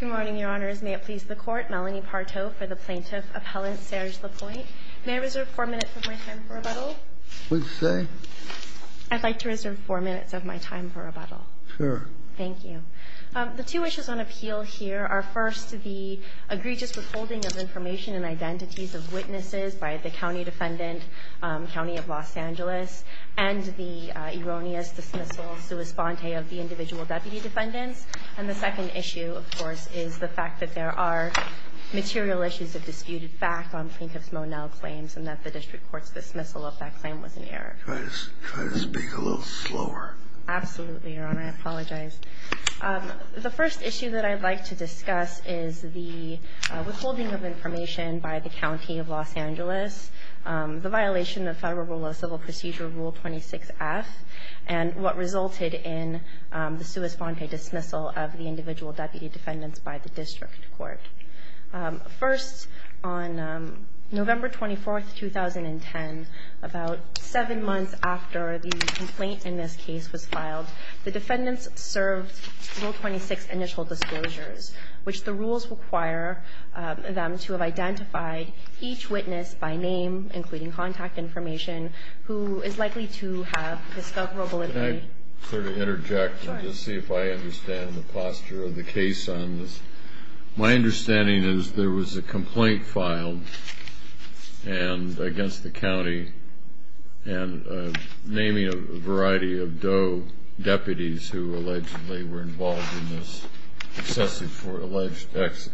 Good morning, Your Honors. May it please the Court, Melanie Parto for the Plaintiff Appellant Serge LaPointe. May I reserve four minutes of my time for rebuttal? Please say. I'd like to reserve four minutes of my time for rebuttal. Sure. Thank you. The two issues on appeal here are, first, the egregious withholding of information and identities of witnesses by the County Defendant, County of Los Angeles, and the erroneous dismissal, sua sponte, of the individual Deputy Defendants. And the second issue, of course, is the fact that there are material issues that disputed back on Plaintiff's Monell claims and that the District Court's dismissal of that claim was an error. Try to speak a little slower. Absolutely, Your Honor. I apologize. The first issue that I'd like to discuss is the withholding of information by the County of Los Angeles, the violation of Federal Rule of Civil Procedure, Rule 26F, and what resulted in the sua sponte dismissal of the individual Deputy Defendants by the District Court. First, on November 24, 2010, about seven months after the complaint in this case was filed, the defendants served Rule 26 initial disclosures, which the rules require them to have identified each witness by name, including contact information, who is likely to have discoverable information. Can I sort of interject and just see if I understand the posture of the case on this? My understanding is there was a complaint filed against the county and naming a variety of DOE deputies who allegedly were involved in this alleged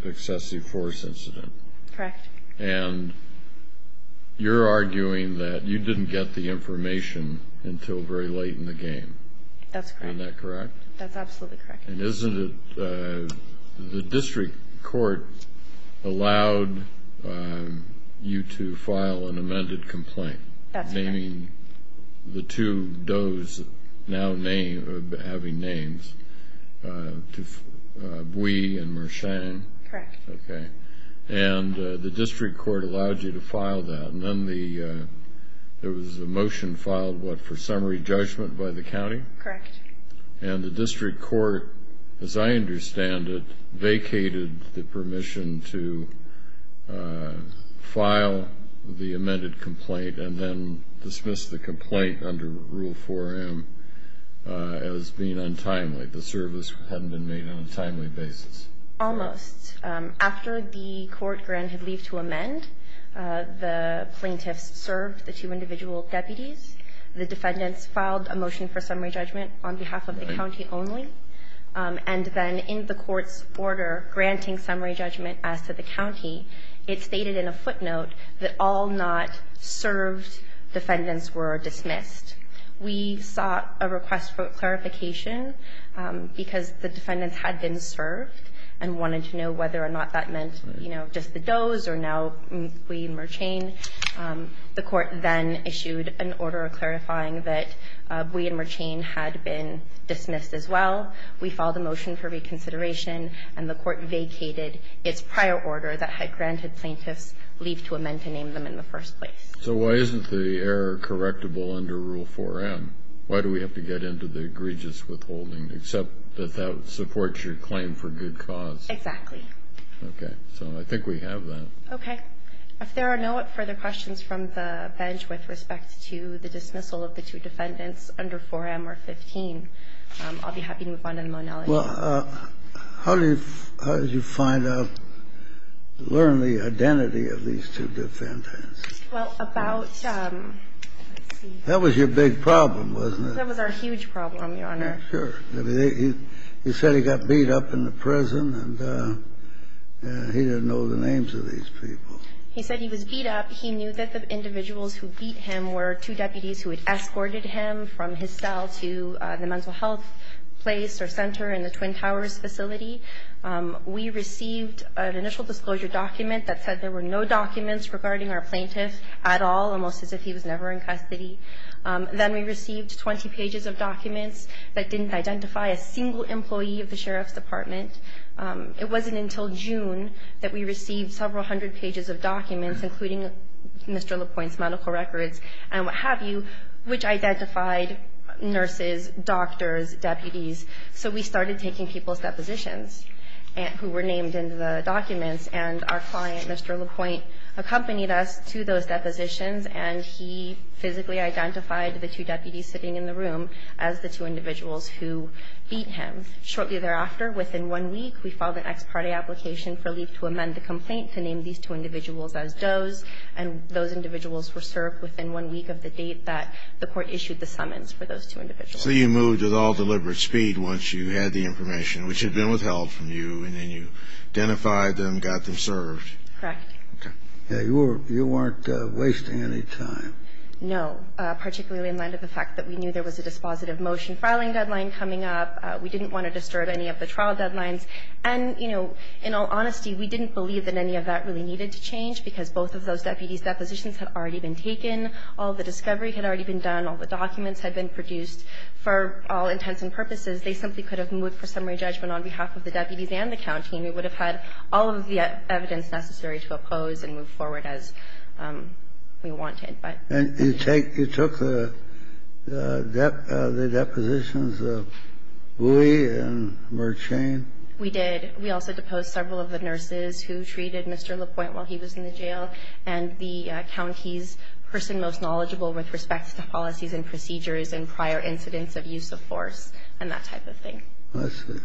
excessive force incident. Correct. And you're arguing that you didn't get the information until very late in the game. That's correct. Isn't that correct? That's absolutely correct. And isn't it the District Court allowed you to file an amended complaint, naming the two DOEs now having names, Bui and Mersheng? Correct. Okay. And the District Court allowed you to file that. And then there was a motion filed, what, for summary judgment by the county? Correct. And the District Court, as I understand it, vacated the permission to file the amended complaint and then dismiss the complaint under Rule 4M as being untimely. The service hadn't been made on a timely basis. Almost. After the court granted leave to amend, the plaintiffs served the two individual deputies. The defendants filed a motion for summary judgment on behalf of the county only. And then in the court's order granting summary judgment as to the county, it stated in a footnote that all not served defendants were dismissed. We sought a request for clarification because the defendants had been served and wanted to know whether or not that meant, you know, just the DOEs or now Bui and Mersheng. The court then issued an order clarifying that Bui and Mersheng had been dismissed as well. We filed a motion for reconsideration, and the court vacated its prior order that had granted plaintiffs leave to amend to name them in the first place. So why isn't the error correctable under Rule 4M? Why do we have to get into the egregious withholding, except that that supports your claim for good cause? Exactly. Okay. So I think we have that. Okay. If there are no further questions from the bench with respect to the dismissal of the two defendants under 4M or 15, I'll be happy to move on to the monologues. Well, how did you find out, learn the identity of these two defendants? Well, about, let's see. That was your big problem, wasn't it? That was our huge problem, Your Honor. Sure. He said he got beat up in the prison, and he didn't know the names of these people. He said he was beat up. He knew that the individuals who beat him were two deputies who had escorted him from his cell to the mental health place or center in the Twin Towers facility. We received an initial disclosure document that said there were no documents regarding our plaintiff at all, almost as if he was never in custody. Then we received 20 pages of documents that didn't identify a single employee of the sheriff's department. It wasn't until June that we received several hundred pages of documents, including Mr. LaPointe's medical records and what have you, which identified nurses, doctors, deputies. So we started taking people's depositions who were named in the documents, and our client, Mr. LaPointe, accompanied us to those depositions, and he physically identified the two deputies sitting in the room as the two individuals who beat him. Shortly thereafter, within one week, we filed an ex parte application for leave to amend the complaint to name these two individuals as does, and those individuals were served within one week of the date that the court issued the summons for those two individuals. So you moved at all deliberate speed once you had the information, which had been withheld from you, and then you identified them, got them served. Correct. Okay. You weren't wasting any time. No, particularly in light of the fact that we knew there was a dispositive motion filing deadline coming up. We didn't want to disturb any of the trial deadlines. And, you know, in all honesty, we didn't believe that any of that really needed to change because both of those deputies' depositions had already been taken. All the discovery had already been done. All the documents had been produced. For all intents and purposes, they simply could have moved for summary judgment on behalf of the deputies and the county, and we would have had all of the evidence necessary to oppose and move forward as we wanted, but. And you take the depositions of Bouie and Murchane? We did. We also deposed several of the nurses who treated Mr. LaPointe while he was in the jail and the county's person most knowledgeable with respect to policies and procedures and prior incidents of use of force and that type of thing. I see.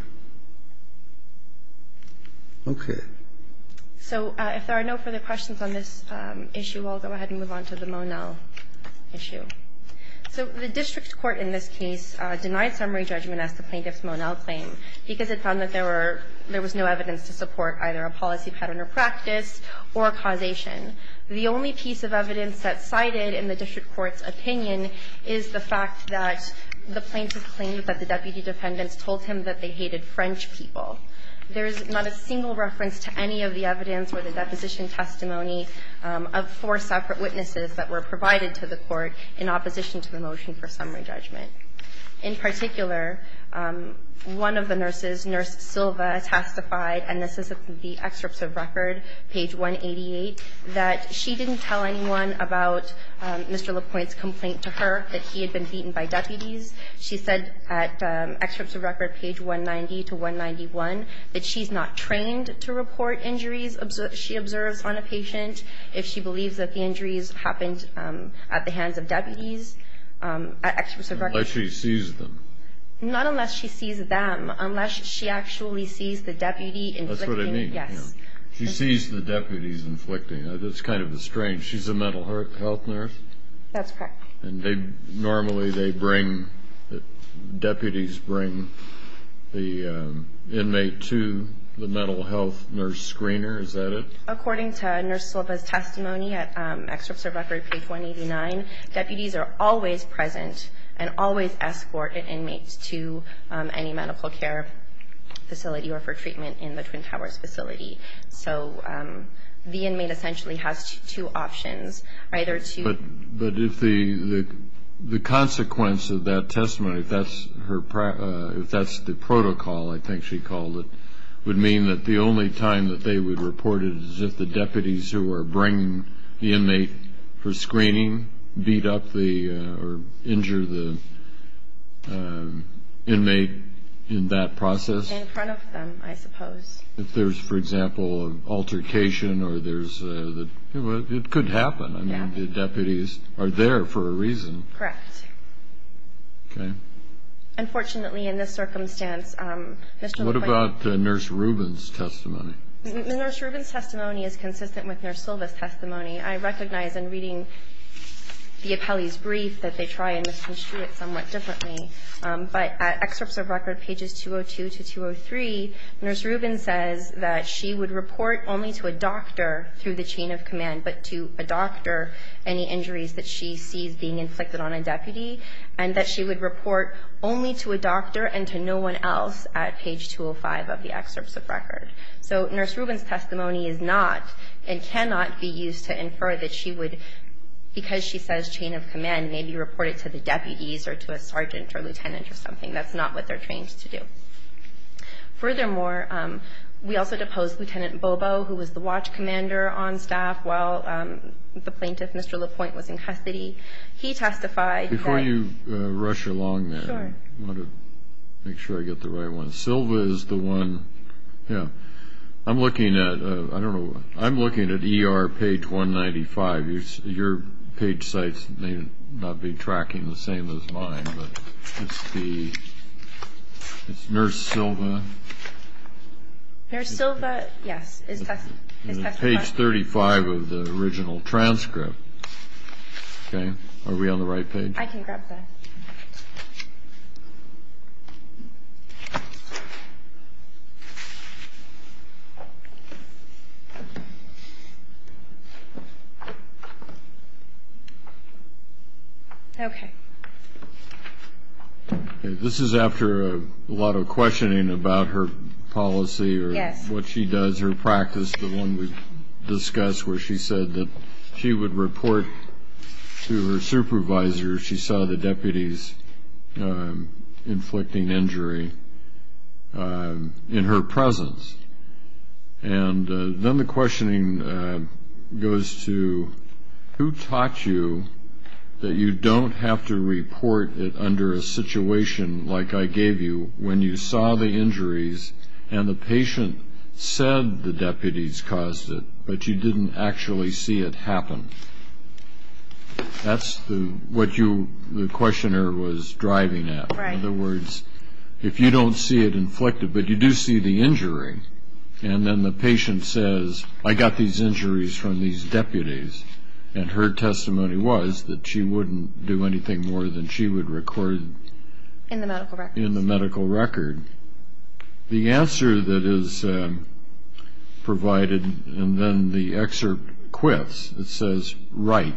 Okay. So if there are no further questions on this issue, I'll go ahead and move on to the Monell issue. So the district court in this case denied summary judgment as to Plaintiff's Monell claim because it found that there were no evidence to support either a policy pattern or practice or causation. The only piece of evidence that's cited in the district court's opinion is the fact that the plaintiff claimed that the deputy defendants told him that they hated French people. There's not a single reference to any of the evidence or the deposition testimony of four separate witnesses that were provided to the court in opposition to the motion for summary judgment. In particular, one of the nurses, Nurse Silva, testified, and this is the excerpt of record, page 188, that she didn't tell anyone about Mr. LaPointe's complaint to her that he had been beaten by deputies. She said at excerpt of record, page 190 to 191, that she's not trained to report injuries she observes on a patient if she believes that the injuries happened at the hands of deputies. At excerpt of record. Unless she sees them. Not unless she sees them. Unless she actually sees the deputy inflicting. Yes. She sees the deputies inflicting. That's kind of strange. She's a mental health nurse. That's correct. And normally they bring, deputies bring the inmate to the mental health nurse screener. Is that it? According to Nurse Silva's testimony at excerpt of record, page 189, deputies are always present and always escort an inmate to any medical care facility or for treatment in the Twin Towers facility. So the inmate essentially has two options. Either to... But if the consequence of that testimony, if that's the protocol, I think she called it, would mean that the only time that they would report it is if the deputies who are bringing the inmate for screening beat up the, or injure the inmate in that process? In front of them, I suppose. If there's, for example, an altercation or there's a... It could happen. Yeah. I mean, the deputies are there for a reason. Correct. Okay. Unfortunately, in this circumstance... What about Nurse Rubin's testimony? Nurse Rubin's testimony is consistent with Nurse Silva's testimony. I recognize in reading the appellee's brief that they try and misconstrue it somewhat Nurse Rubin says that she would report only to a doctor through the chain of command, but to a doctor any injuries that she sees being inflicted on a deputy, and that she would report only to a doctor and to no one else at page 205 of the excerpts of record. So Nurse Rubin's testimony is not and cannot be used to infer that she would, because she says chain of command, maybe report it to the deputies or to a sergeant or lieutenant or something. That's not what they're trained to do. Furthermore, we also deposed Lieutenant Bobo, who was the watch commander on staff while the plaintiff, Mr. LaPointe, was in custody. He testified... Before you rush along there, I want to make sure I get the right one. Silva is the one... Yeah. I'm looking at... I don't know. I'm looking at ER page 195. Your page sites may not be tracking the same as mine, but it's the... It's Nurse Silva. Nurse Silva, yes. Page 35 of the original transcript. Okay. Are we on the right page? I can grab that. Okay. This is after a lot of questioning about her policy or what she does, her practice, the one we discussed where she said that she would report to her supervisor if she saw the deputies inflicting injury in her presence. And then the questioning goes to who taught you that you don't have to report it under a situation like I gave you when you saw the injuries and the patient said the deputies caused it, but you didn't actually see it happen? That's what the questioner was driving at. Right. In other words, if you don't see it inflicted, but you do see the injury, and then the patient says, I got these injuries from these deputies, and her testimony was that she wouldn't do anything more than she would record... In the medical record. In the medical record. The answer that is provided, and then the excerpt quits, it says, right.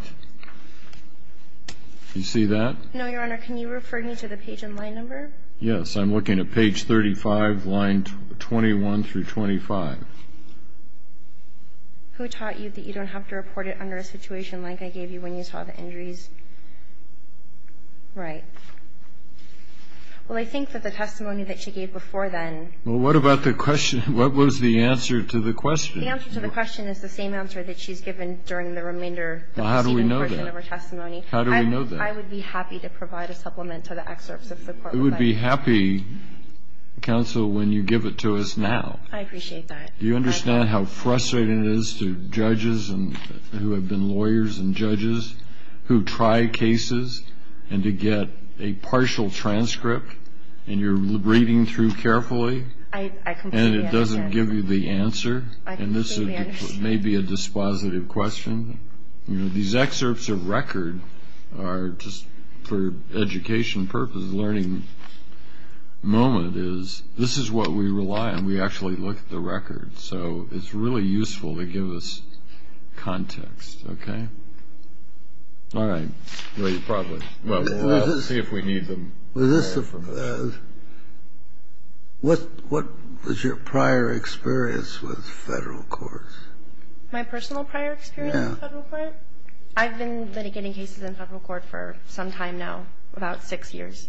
You see that? No, Your Honor. Can you refer me to the page and line number? Yes. I'm looking at page 35, line 21 through 25. Who taught you that you don't have to report it under a situation like I gave you when you saw the injuries? Right. Well, I think that the testimony that she gave before then... Well, what about the question? What was the answer to the question? The answer to the question is the same answer that she's given during the remainder of her testimony. How do we know that? How do we know that? Well, I would be happy to provide a supplement to the excerpts of the court record. You would be happy, counsel, when you give it to us now. I appreciate that. Do you understand how frustrating it is to judges who have been lawyers and judges who try cases, and to get a partial transcript, and you're reading through carefully, and it doesn't give you the answer? I completely understand. And this may be a dispositive question. These excerpts of record are just for education purposes. The learning moment is this is what we rely on. We actually look at the record. So it's really useful to give us context. Okay? All right. Probably. We'll see if we need them. Was this the... What was your prior experience with federal courts? My personal prior experience with federal court? Yeah. I've been litigating cases in federal court for some time now, about six years.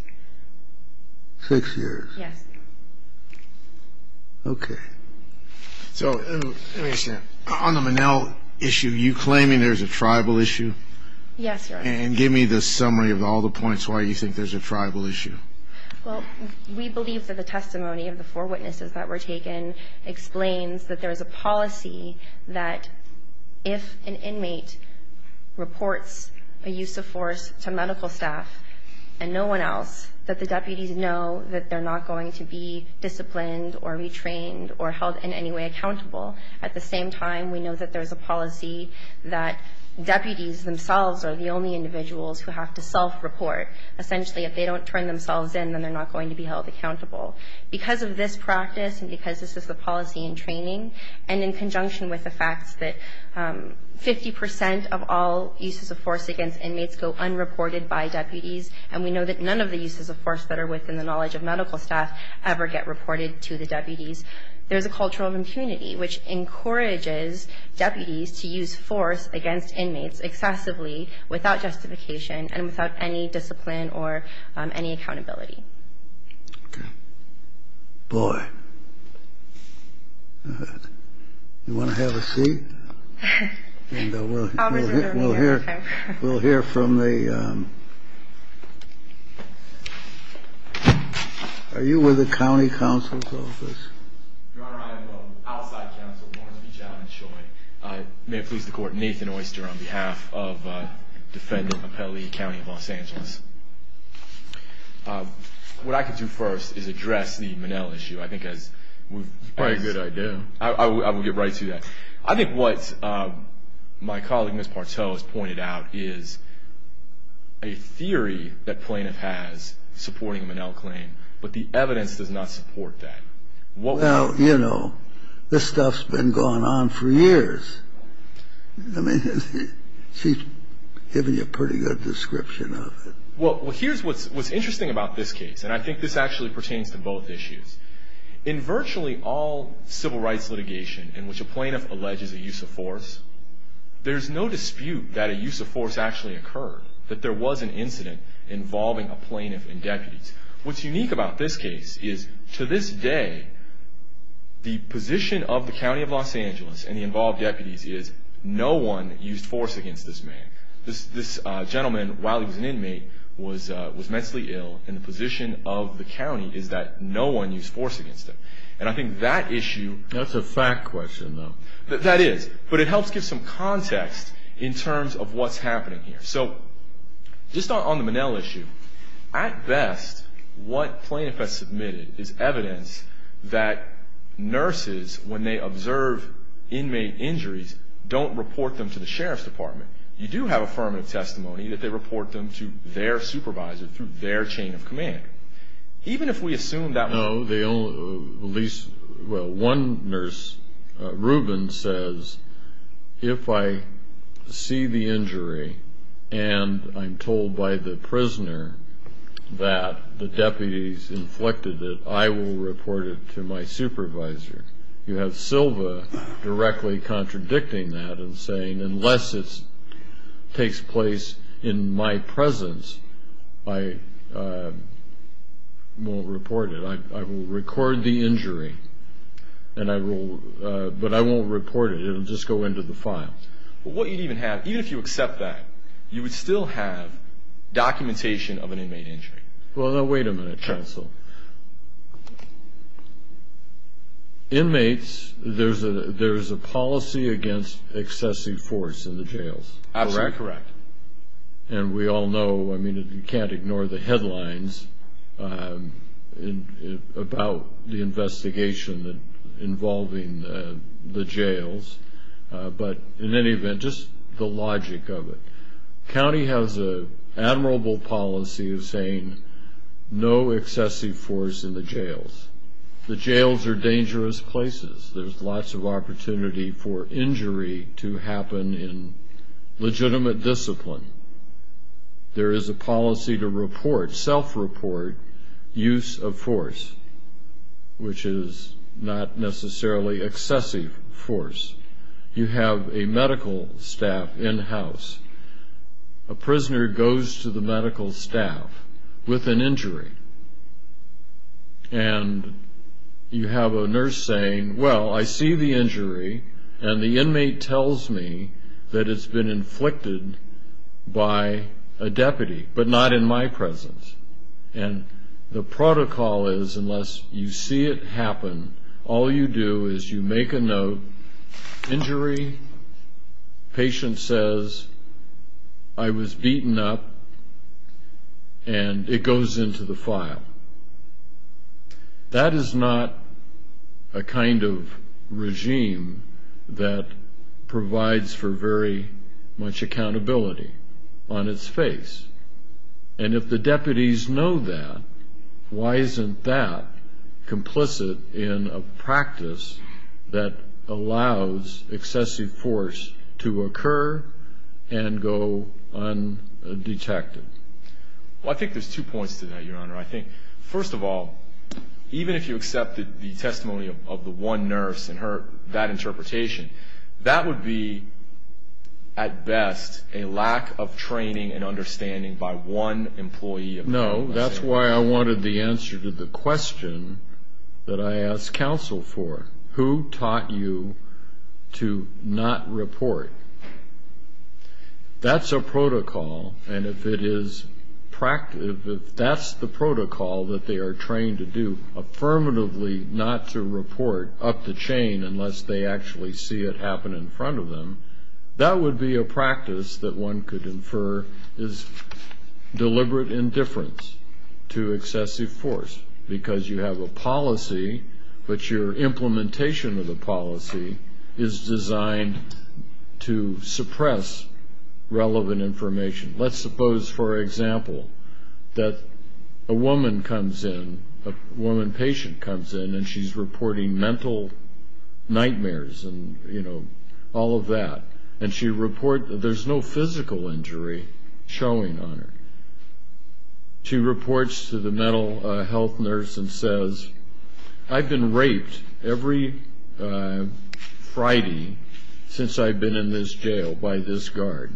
Six years? Yes. Okay. So let me understand. On the Monell issue, you're claiming there's a tribal issue? Yes, Your Honor. And give me the summary of all the points why you think there's a tribal issue. Well, we believe that the testimony of the four witnesses that were taken explains that there is a policy that if an inmate reports a use of force to medical staff and no one else, that the deputies know that they're not going to be disciplined or retrained or held in any way accountable. At the same time, we know that there's a policy that deputies themselves are the only individuals who have to self-report. Essentially, if they don't turn themselves in, then they're not going to be held accountable. Because of this practice and because this is the policy in training, and in conjunction with the fact that 50% of all uses of force against inmates go unreported by deputies, and we know that none of the uses of force that are within the knowledge of medical staff ever get reported to the deputies, there's a culture of impunity, which encourages deputies to use force against inmates excessively without justification and without any discipline or any accountability. Okay. Boy. You want to have a seat? And we'll hear from the... Are you with the County Counsel's Office? Your Honor, I am outside counsel, Lawrence B. Javins Choi. May it please the Court, Nathan Oyster on behalf of defendant Appelli County of Los Angeles. What I can do first is address the Minnell issue. I think as we've... It's quite a good idea. I will get right to that. I think what my colleague, Ms. Pateau, has pointed out is a theory that plaintiff has supporting Minnell claim, but the evidence does not support that. I mean, she's given you a pretty good description of it. Well, here's what's interesting about this case, and I think this actually pertains to both issues. In virtually all civil rights litigation in which a plaintiff alleges a use of force, there's no dispute that a use of force actually occurred, that there was an incident involving a plaintiff and deputies. What's unique about this case is to this day, the position of the County of Los Angeles and the involved deputies is no one used force against this man. This gentleman, while he was an inmate, was mentally ill, and the position of the county is that no one used force against him. And I think that issue... That's a fact question, though. That is, but it helps give some context in terms of what's happening here. So just on the Minnell issue, at best, what plaintiff has submitted is evidence that nurses, when they observe inmate injuries, don't report them to the sheriff's department. You do have affirmative testimony that they report them to their supervisor through their chain of command. Even if we assume that... Well, one nurse, Reuben, says, if I see the injury and I'm told by the prisoner that the deputies inflicted it, I will report it to my supervisor. You have Silva directly contradicting that and saying, unless it takes place in my presence, I won't report it. I will record the injury, but I won't report it. It will just go into the file. What you'd even have, even if you accept that, you would still have documentation of an inmate injury. Well, now, wait a minute, counsel. Inmates, there's a policy against excessive force in the jails. Absolutely correct. And we all know, I mean, you can't ignore the headlines about the investigation involving the jails, but in any event, just the logic of it. County has an admirable policy of saying no excessive force in the jails. The jails are dangerous places. There's lots of opportunity for injury to happen in legitimate discipline. There is a policy to report, self-report, use of force, which is not necessarily excessive force. You have a medical staff in-house. A prisoner goes to the medical staff with an injury, and you have a nurse saying, well, I see the injury, and the inmate tells me that it's been inflicted by a deputy, but not in my presence. And the protocol is, unless you see it happen, all you do is you make a note, injury, patient says, I was beaten up, and it goes into the file. That is not a kind of regime that provides for very much accountability on its face. And if the deputies know that, why isn't that complicit in a practice that allows excessive force to occur and go undetected? Well, I think there's two points to that, Your Honor. I think, first of all, even if you accepted the testimony of the one nurse and heard that interpretation, that would be, at best, a lack of training and understanding by one employee. No, that's why I wanted the answer to the question that I asked counsel for. Who taught you to not report? That's a protocol, and if that's the protocol that they are trained to do, affirmatively not to report up the chain unless they actually see it happen in front of them, that would be a practice that one could infer is deliberate indifference to excessive force, because you have a policy, but your implementation of the policy is designed to suppress relevant information. Let's suppose, for example, that a woman comes in, a woman patient comes in, and she's reporting mental nightmares and, you know, all of that, and she reports that there's no physical injury showing on her. She reports to the mental health nurse and says, I've been raped every Friday since I've been in this jail by this guard,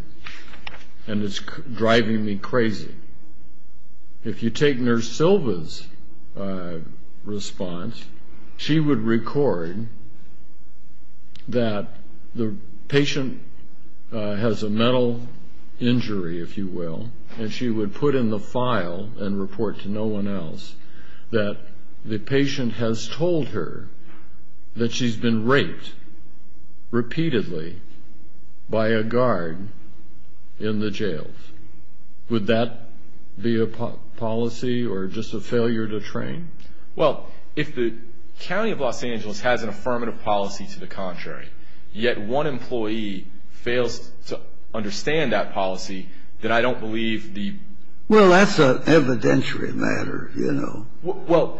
and it's driving me crazy. If you take Nurse Silva's response, she would record that the patient has a mental injury, if you will, and she would put in the file and report to no one else that the patient has told her that she's been raped repeatedly by a guard in the jails. Would that be a policy or just a failure to train? Well, if the county of Los Angeles has an affirmative policy to the contrary, yet one employee fails to understand that policy, then I don't believe the ---- Well, that's an evidentiary matter, you know. Well,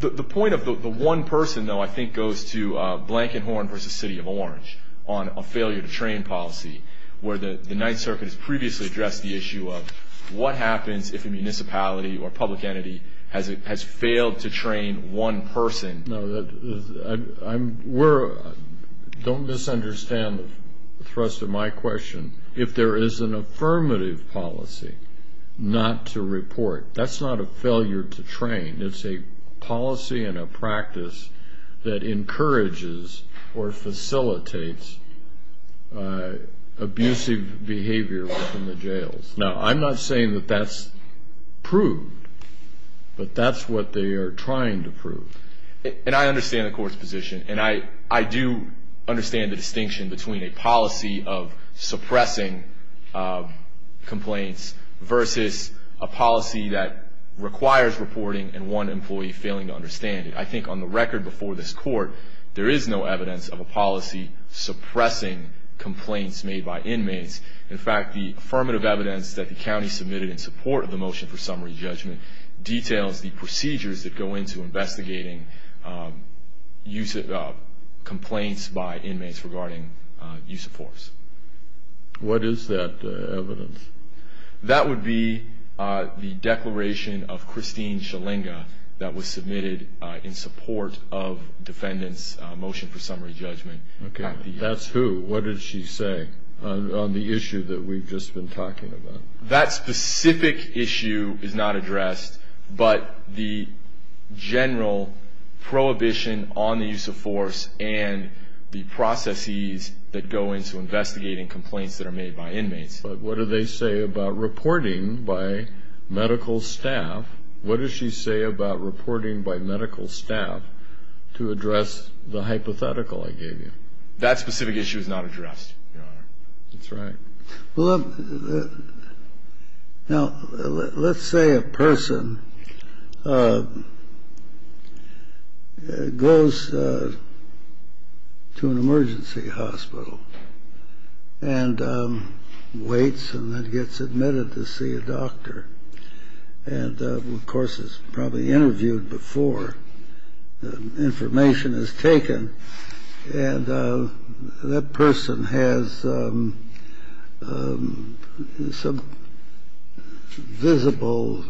the point of the one person, though, I think goes to Blankenhorn versus City of Orange on a failure to train policy, where the Ninth Circuit has previously addressed the issue of what happens if a municipality or public entity has failed to train one person. Don't misunderstand the thrust of my question. If there is an affirmative policy not to report, that's not a failure to train. It's a policy and a practice that encourages or facilitates abusive behavior within the jails. Now, I'm not saying that that's proved, but that's what they are trying to prove. And I understand the Court's position, and I do understand the distinction between a policy of suppressing complaints versus a policy that requires reporting and one employee failing to understand it. I think on the record before this Court, there is no evidence of a policy suppressing complaints made by inmates. In fact, the affirmative evidence that the county submitted in support of the motion for summary judgment details the procedures that go into investigating complaints by inmates regarding use of force. What is that evidence? That would be the declaration of Christine Shalinga that was submitted in support of defendants' motion for summary judgment. Okay. That's who? What did she say on the issue that we've just been talking about? That specific issue is not addressed, but the general prohibition on the use of force and the processes that go into investigating complaints that are made by inmates. But what do they say about reporting by medical staff? What does she say about reporting by medical staff to address the hypothetical I gave you? That specific issue is not addressed, Your Honor. That's right. Well, now, let's say a person goes to an emergency hospital and waits and then gets admitted to see a doctor. And, of course, is probably interviewed before the information is taken. And that person has some visible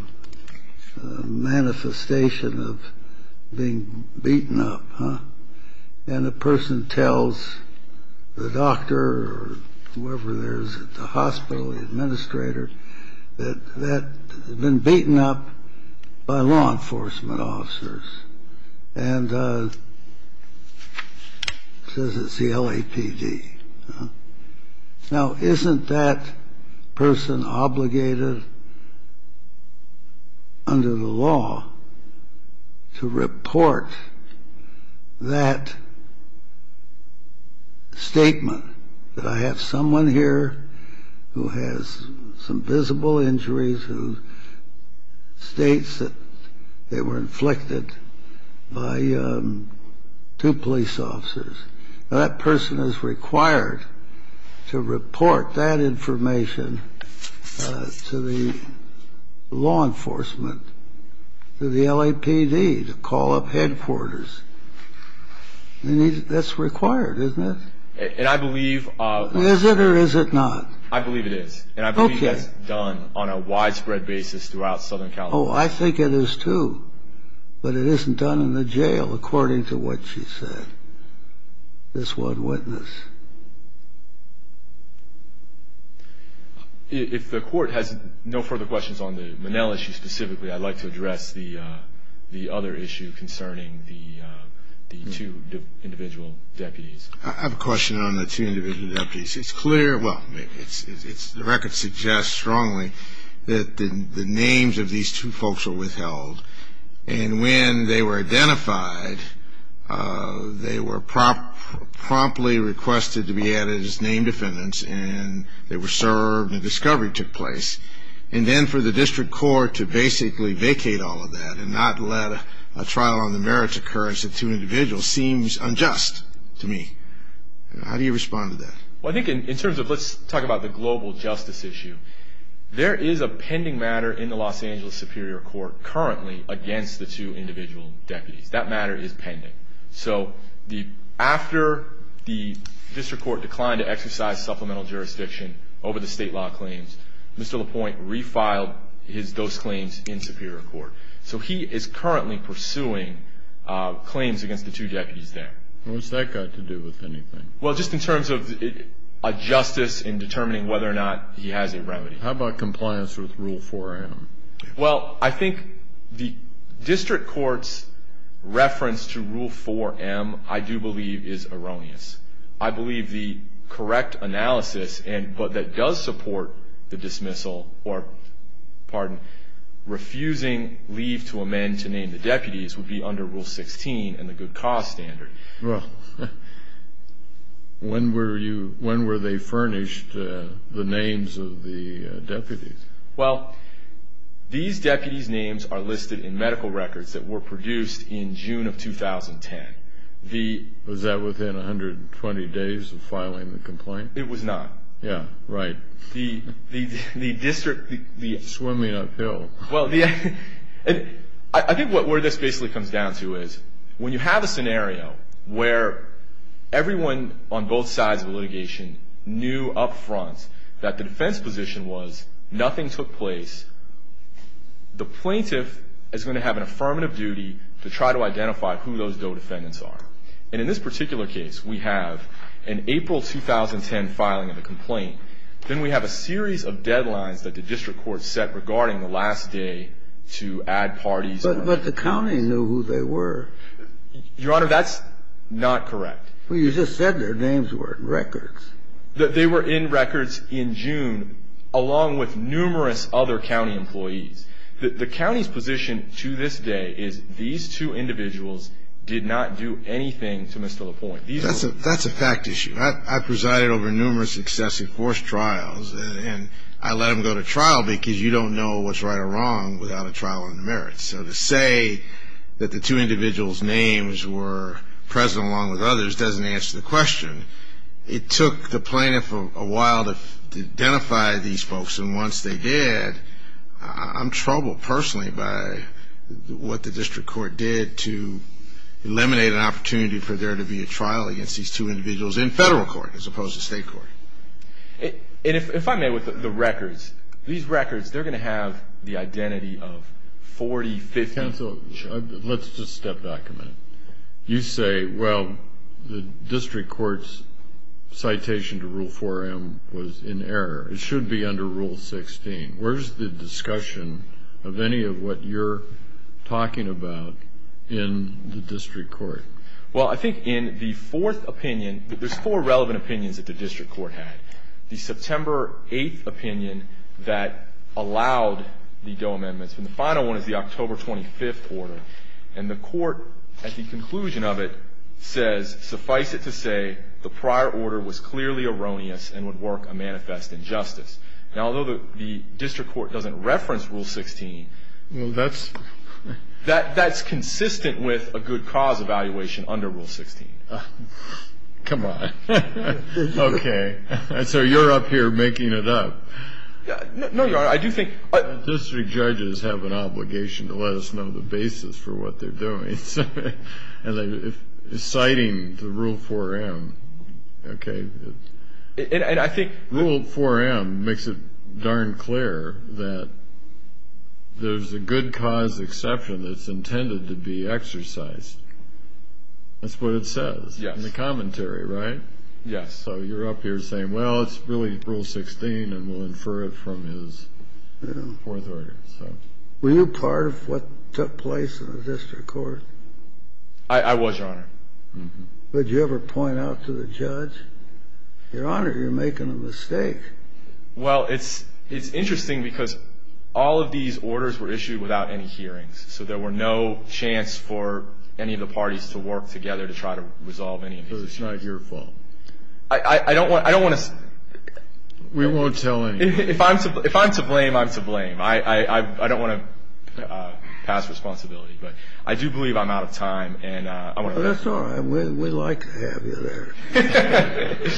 manifestation of being beaten up. And the person tells the doctor or whoever there is at the hospital, the administrator, that they've been beaten up by law enforcement officers and says it's the LAPD. Now, isn't that person obligated under the law to report that statement, that I have someone here who has some visible injuries who states that they were inflicted by two police officers? Now, that person is required to report that information to the law enforcement, to the LAPD, to call up headquarters. That's required, isn't it? And I believe that's done on a widespread basis throughout Southern California. Oh, I think it is, too. But it isn't done in the jail, according to what she said, this one witness. If the court has no further questions on the Monell issue specifically, I'd like to address the other issue concerning the two individual deputies. I have a question on the two individual deputies. It's clear, well, the record suggests strongly that the names of these two folks were withheld. And when they were identified, they were promptly requested to be added as name defendants, and they were served, and a discovery took place. And then for the district court to basically vacate all of that and not let a trial on the merits occurrence of two individuals seems unjust to me. How do you respond to that? Well, I think in terms of let's talk about the global justice issue, there is a pending matter in the Los Angeles Superior Court currently against the two individual deputies. That matter is pending. So after the district court declined to exercise supplemental jurisdiction over the state law claims, Mr. LaPointe refiled those claims in Superior Court. So he is currently pursuing claims against the two deputies there. What's that got to do with anything? Well, just in terms of a justice in determining whether or not he has a remedy. How about compliance with Rule 4M? Well, I think the district court's reference to Rule 4M, I do believe, is erroneous. I believe the correct analysis that does support the dismissal or, pardon, refusing leave to amend to name the deputies would be under Rule 16 and the good cause standard. Well, when were they furnished, the names of the deputies? Well, these deputies' names are listed in medical records that were produced in June of 2010. Was that within 120 days of filing the complaint? It was not. Yeah, right. The district... Swimming uphill. I think where this basically comes down to is when you have a scenario where everyone on both sides of litigation knew up front that the defense position was nothing took place, the plaintiff is going to have an affirmative duty to try to identify who those DOE defendants are. And in this particular case, we have an April 2010 filing of a complaint. Then we have a series of deadlines that the district court set regarding the last day to add parties. But the county knew who they were. Your Honor, that's not correct. Well, you just said their names were in records. They were in records in June, along with numerous other county employees. The county's position to this day is these two individuals did not do anything to Mr. LaPointe. That's a fact issue. I presided over numerous excessive force trials, and I let them go to trial because you don't know what's right or wrong without a trial on the merits. So to say that the two individuals' names were present along with others doesn't answer the question. It took the plaintiff a while to identify these folks, and once they did, I'm troubled personally by what the district court did to eliminate an opportunity for there to be a trial against these two individuals in federal court as opposed to state court. And if I may, with the records, these records, they're going to have the identity of 40, 50. Counsel, let's just step back a minute. You say, well, the district court's citation to Rule 4M was in error. It should be under Rule 16. Where's the discussion of any of what you're talking about in the district court? Well, I think in the fourth opinion, there's four relevant opinions that the district court had. The September 8th opinion that allowed the Doe amendments, and the final one is the October 25th order. And the court, at the conclusion of it, says, suffice it to say the prior order was clearly erroneous and would work a manifest injustice. Now, although the district court doesn't reference Rule 16, that's consistent with a good cause evaluation under Rule 16. Come on. Okay. So you're up here making it up. No, Your Honor. I do think the district judges have an obligation to let us know the basis for what they're doing. Citing the Rule 4M, okay. And I think Rule 4M makes it darn clear that there's a good cause exception that's intended to be exercised. That's what it says in the commentary, right? Yes. So you're up here saying, well, it's really Rule 16, and we'll infer it from his fourth order. Were you part of what took place in the district court? I was, Your Honor. Did you ever point out to the judge, Your Honor, you're making a mistake? Well, it's interesting because all of these orders were issued without any hearings, so there were no chance for any of the parties to work together to try to resolve any of these issues. So it's not your fault? I don't want to say. We won't tell anyone. If I'm to blame, I'm to blame. I don't want to pass responsibility, but I do believe I'm out of time. That's all right. We'd like to have you there.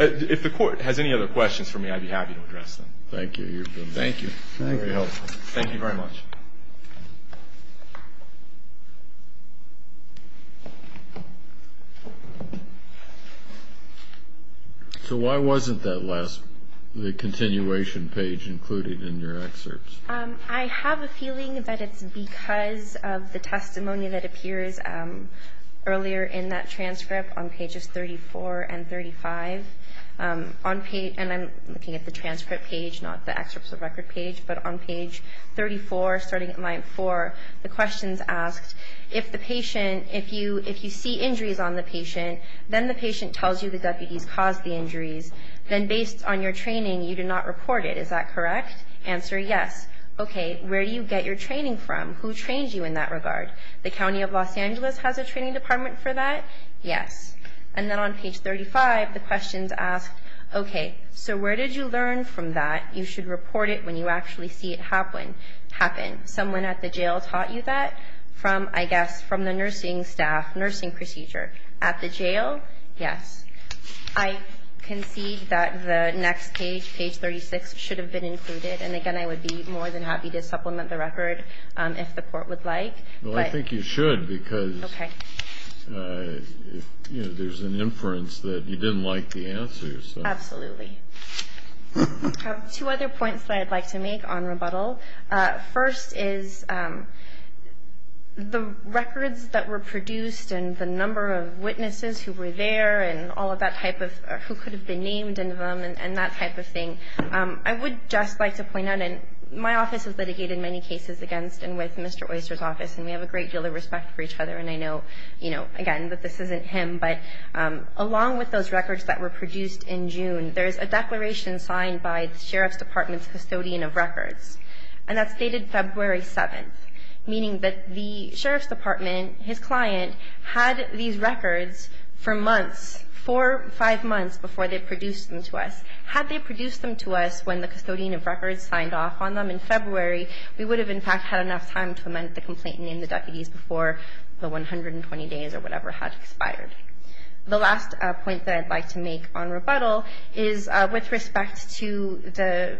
If the court has any other questions for me, I'd be happy to address them. Thank you. Thank you. Thank you very much. So why wasn't that last, the continuation page included in your excerpts? I have a feeling that it's because of the testimony that appears earlier in that transcript on pages 34 and 35. And I'm looking at the transcript page, not the excerpts of record page. But on page 34, starting at line 4, the question's asked, if the patient, if you see injuries on the patient, then the patient tells you the deputies caused the injuries, then based on your training, you did not report it. Is that correct? Answer, yes. Okay. Where do you get your training from? Who trains you in that regard? The County of Los Angeles has a training department for that? Yes. And then on page 35, the question's asked, okay, so where did you learn from that? You should report it when you actually see it happen. Someone at the jail taught you that? From, I guess, from the nursing staff, nursing procedure. At the jail? Yes. I concede that the next page, page 36, should have been included. And, again, I would be more than happy to supplement the record if the court would like. Well, I think you should because there's an inference that you didn't like the answers. Absolutely. I have two other points that I'd like to make on rebuttal. First is the records that were produced and the number of witnesses who were there and all of that type of who could have been named and that type of thing. I would just like to point out, and my office has litigated many cases against and with Mr. Oyster's office, and we have a great deal of respect for each other, and I know, again, that this isn't him. But along with those records that were produced in June, there's a declaration signed by the sheriff's department's custodian of records, and that's dated February 7th, meaning that the sheriff's department, his client, had these records for months, four, five months before they produced them to us. Had they produced them to us when the custodian of records signed off on them in February, we would have, in fact, had enough time to amend the complaint and name the deputies before the 120 days or whatever had expired. The last point that I'd like to make on rebuttal is with respect to the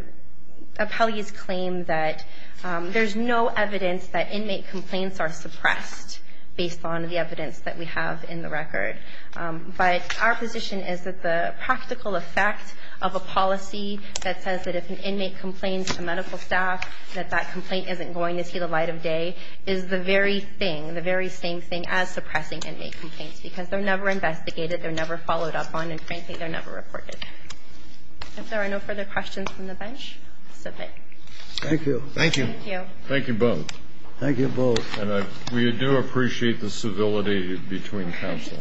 appellee's claim that there's no evidence that inmate complaints are suppressed based on the evidence that we have in the record. But our position is that the practical effect of a policy that says that if an inmate complains to medical staff that that complaint isn't going to see the light of day is the very thing, the very same thing as suppressing inmate complaints, because they're never investigated, they're never followed up on, and frankly, they're never reported. If there are no further questions from the bench, so be it. Thank you. Thank you. Thank you both. Thank you both. And we do appreciate the civility between counsel.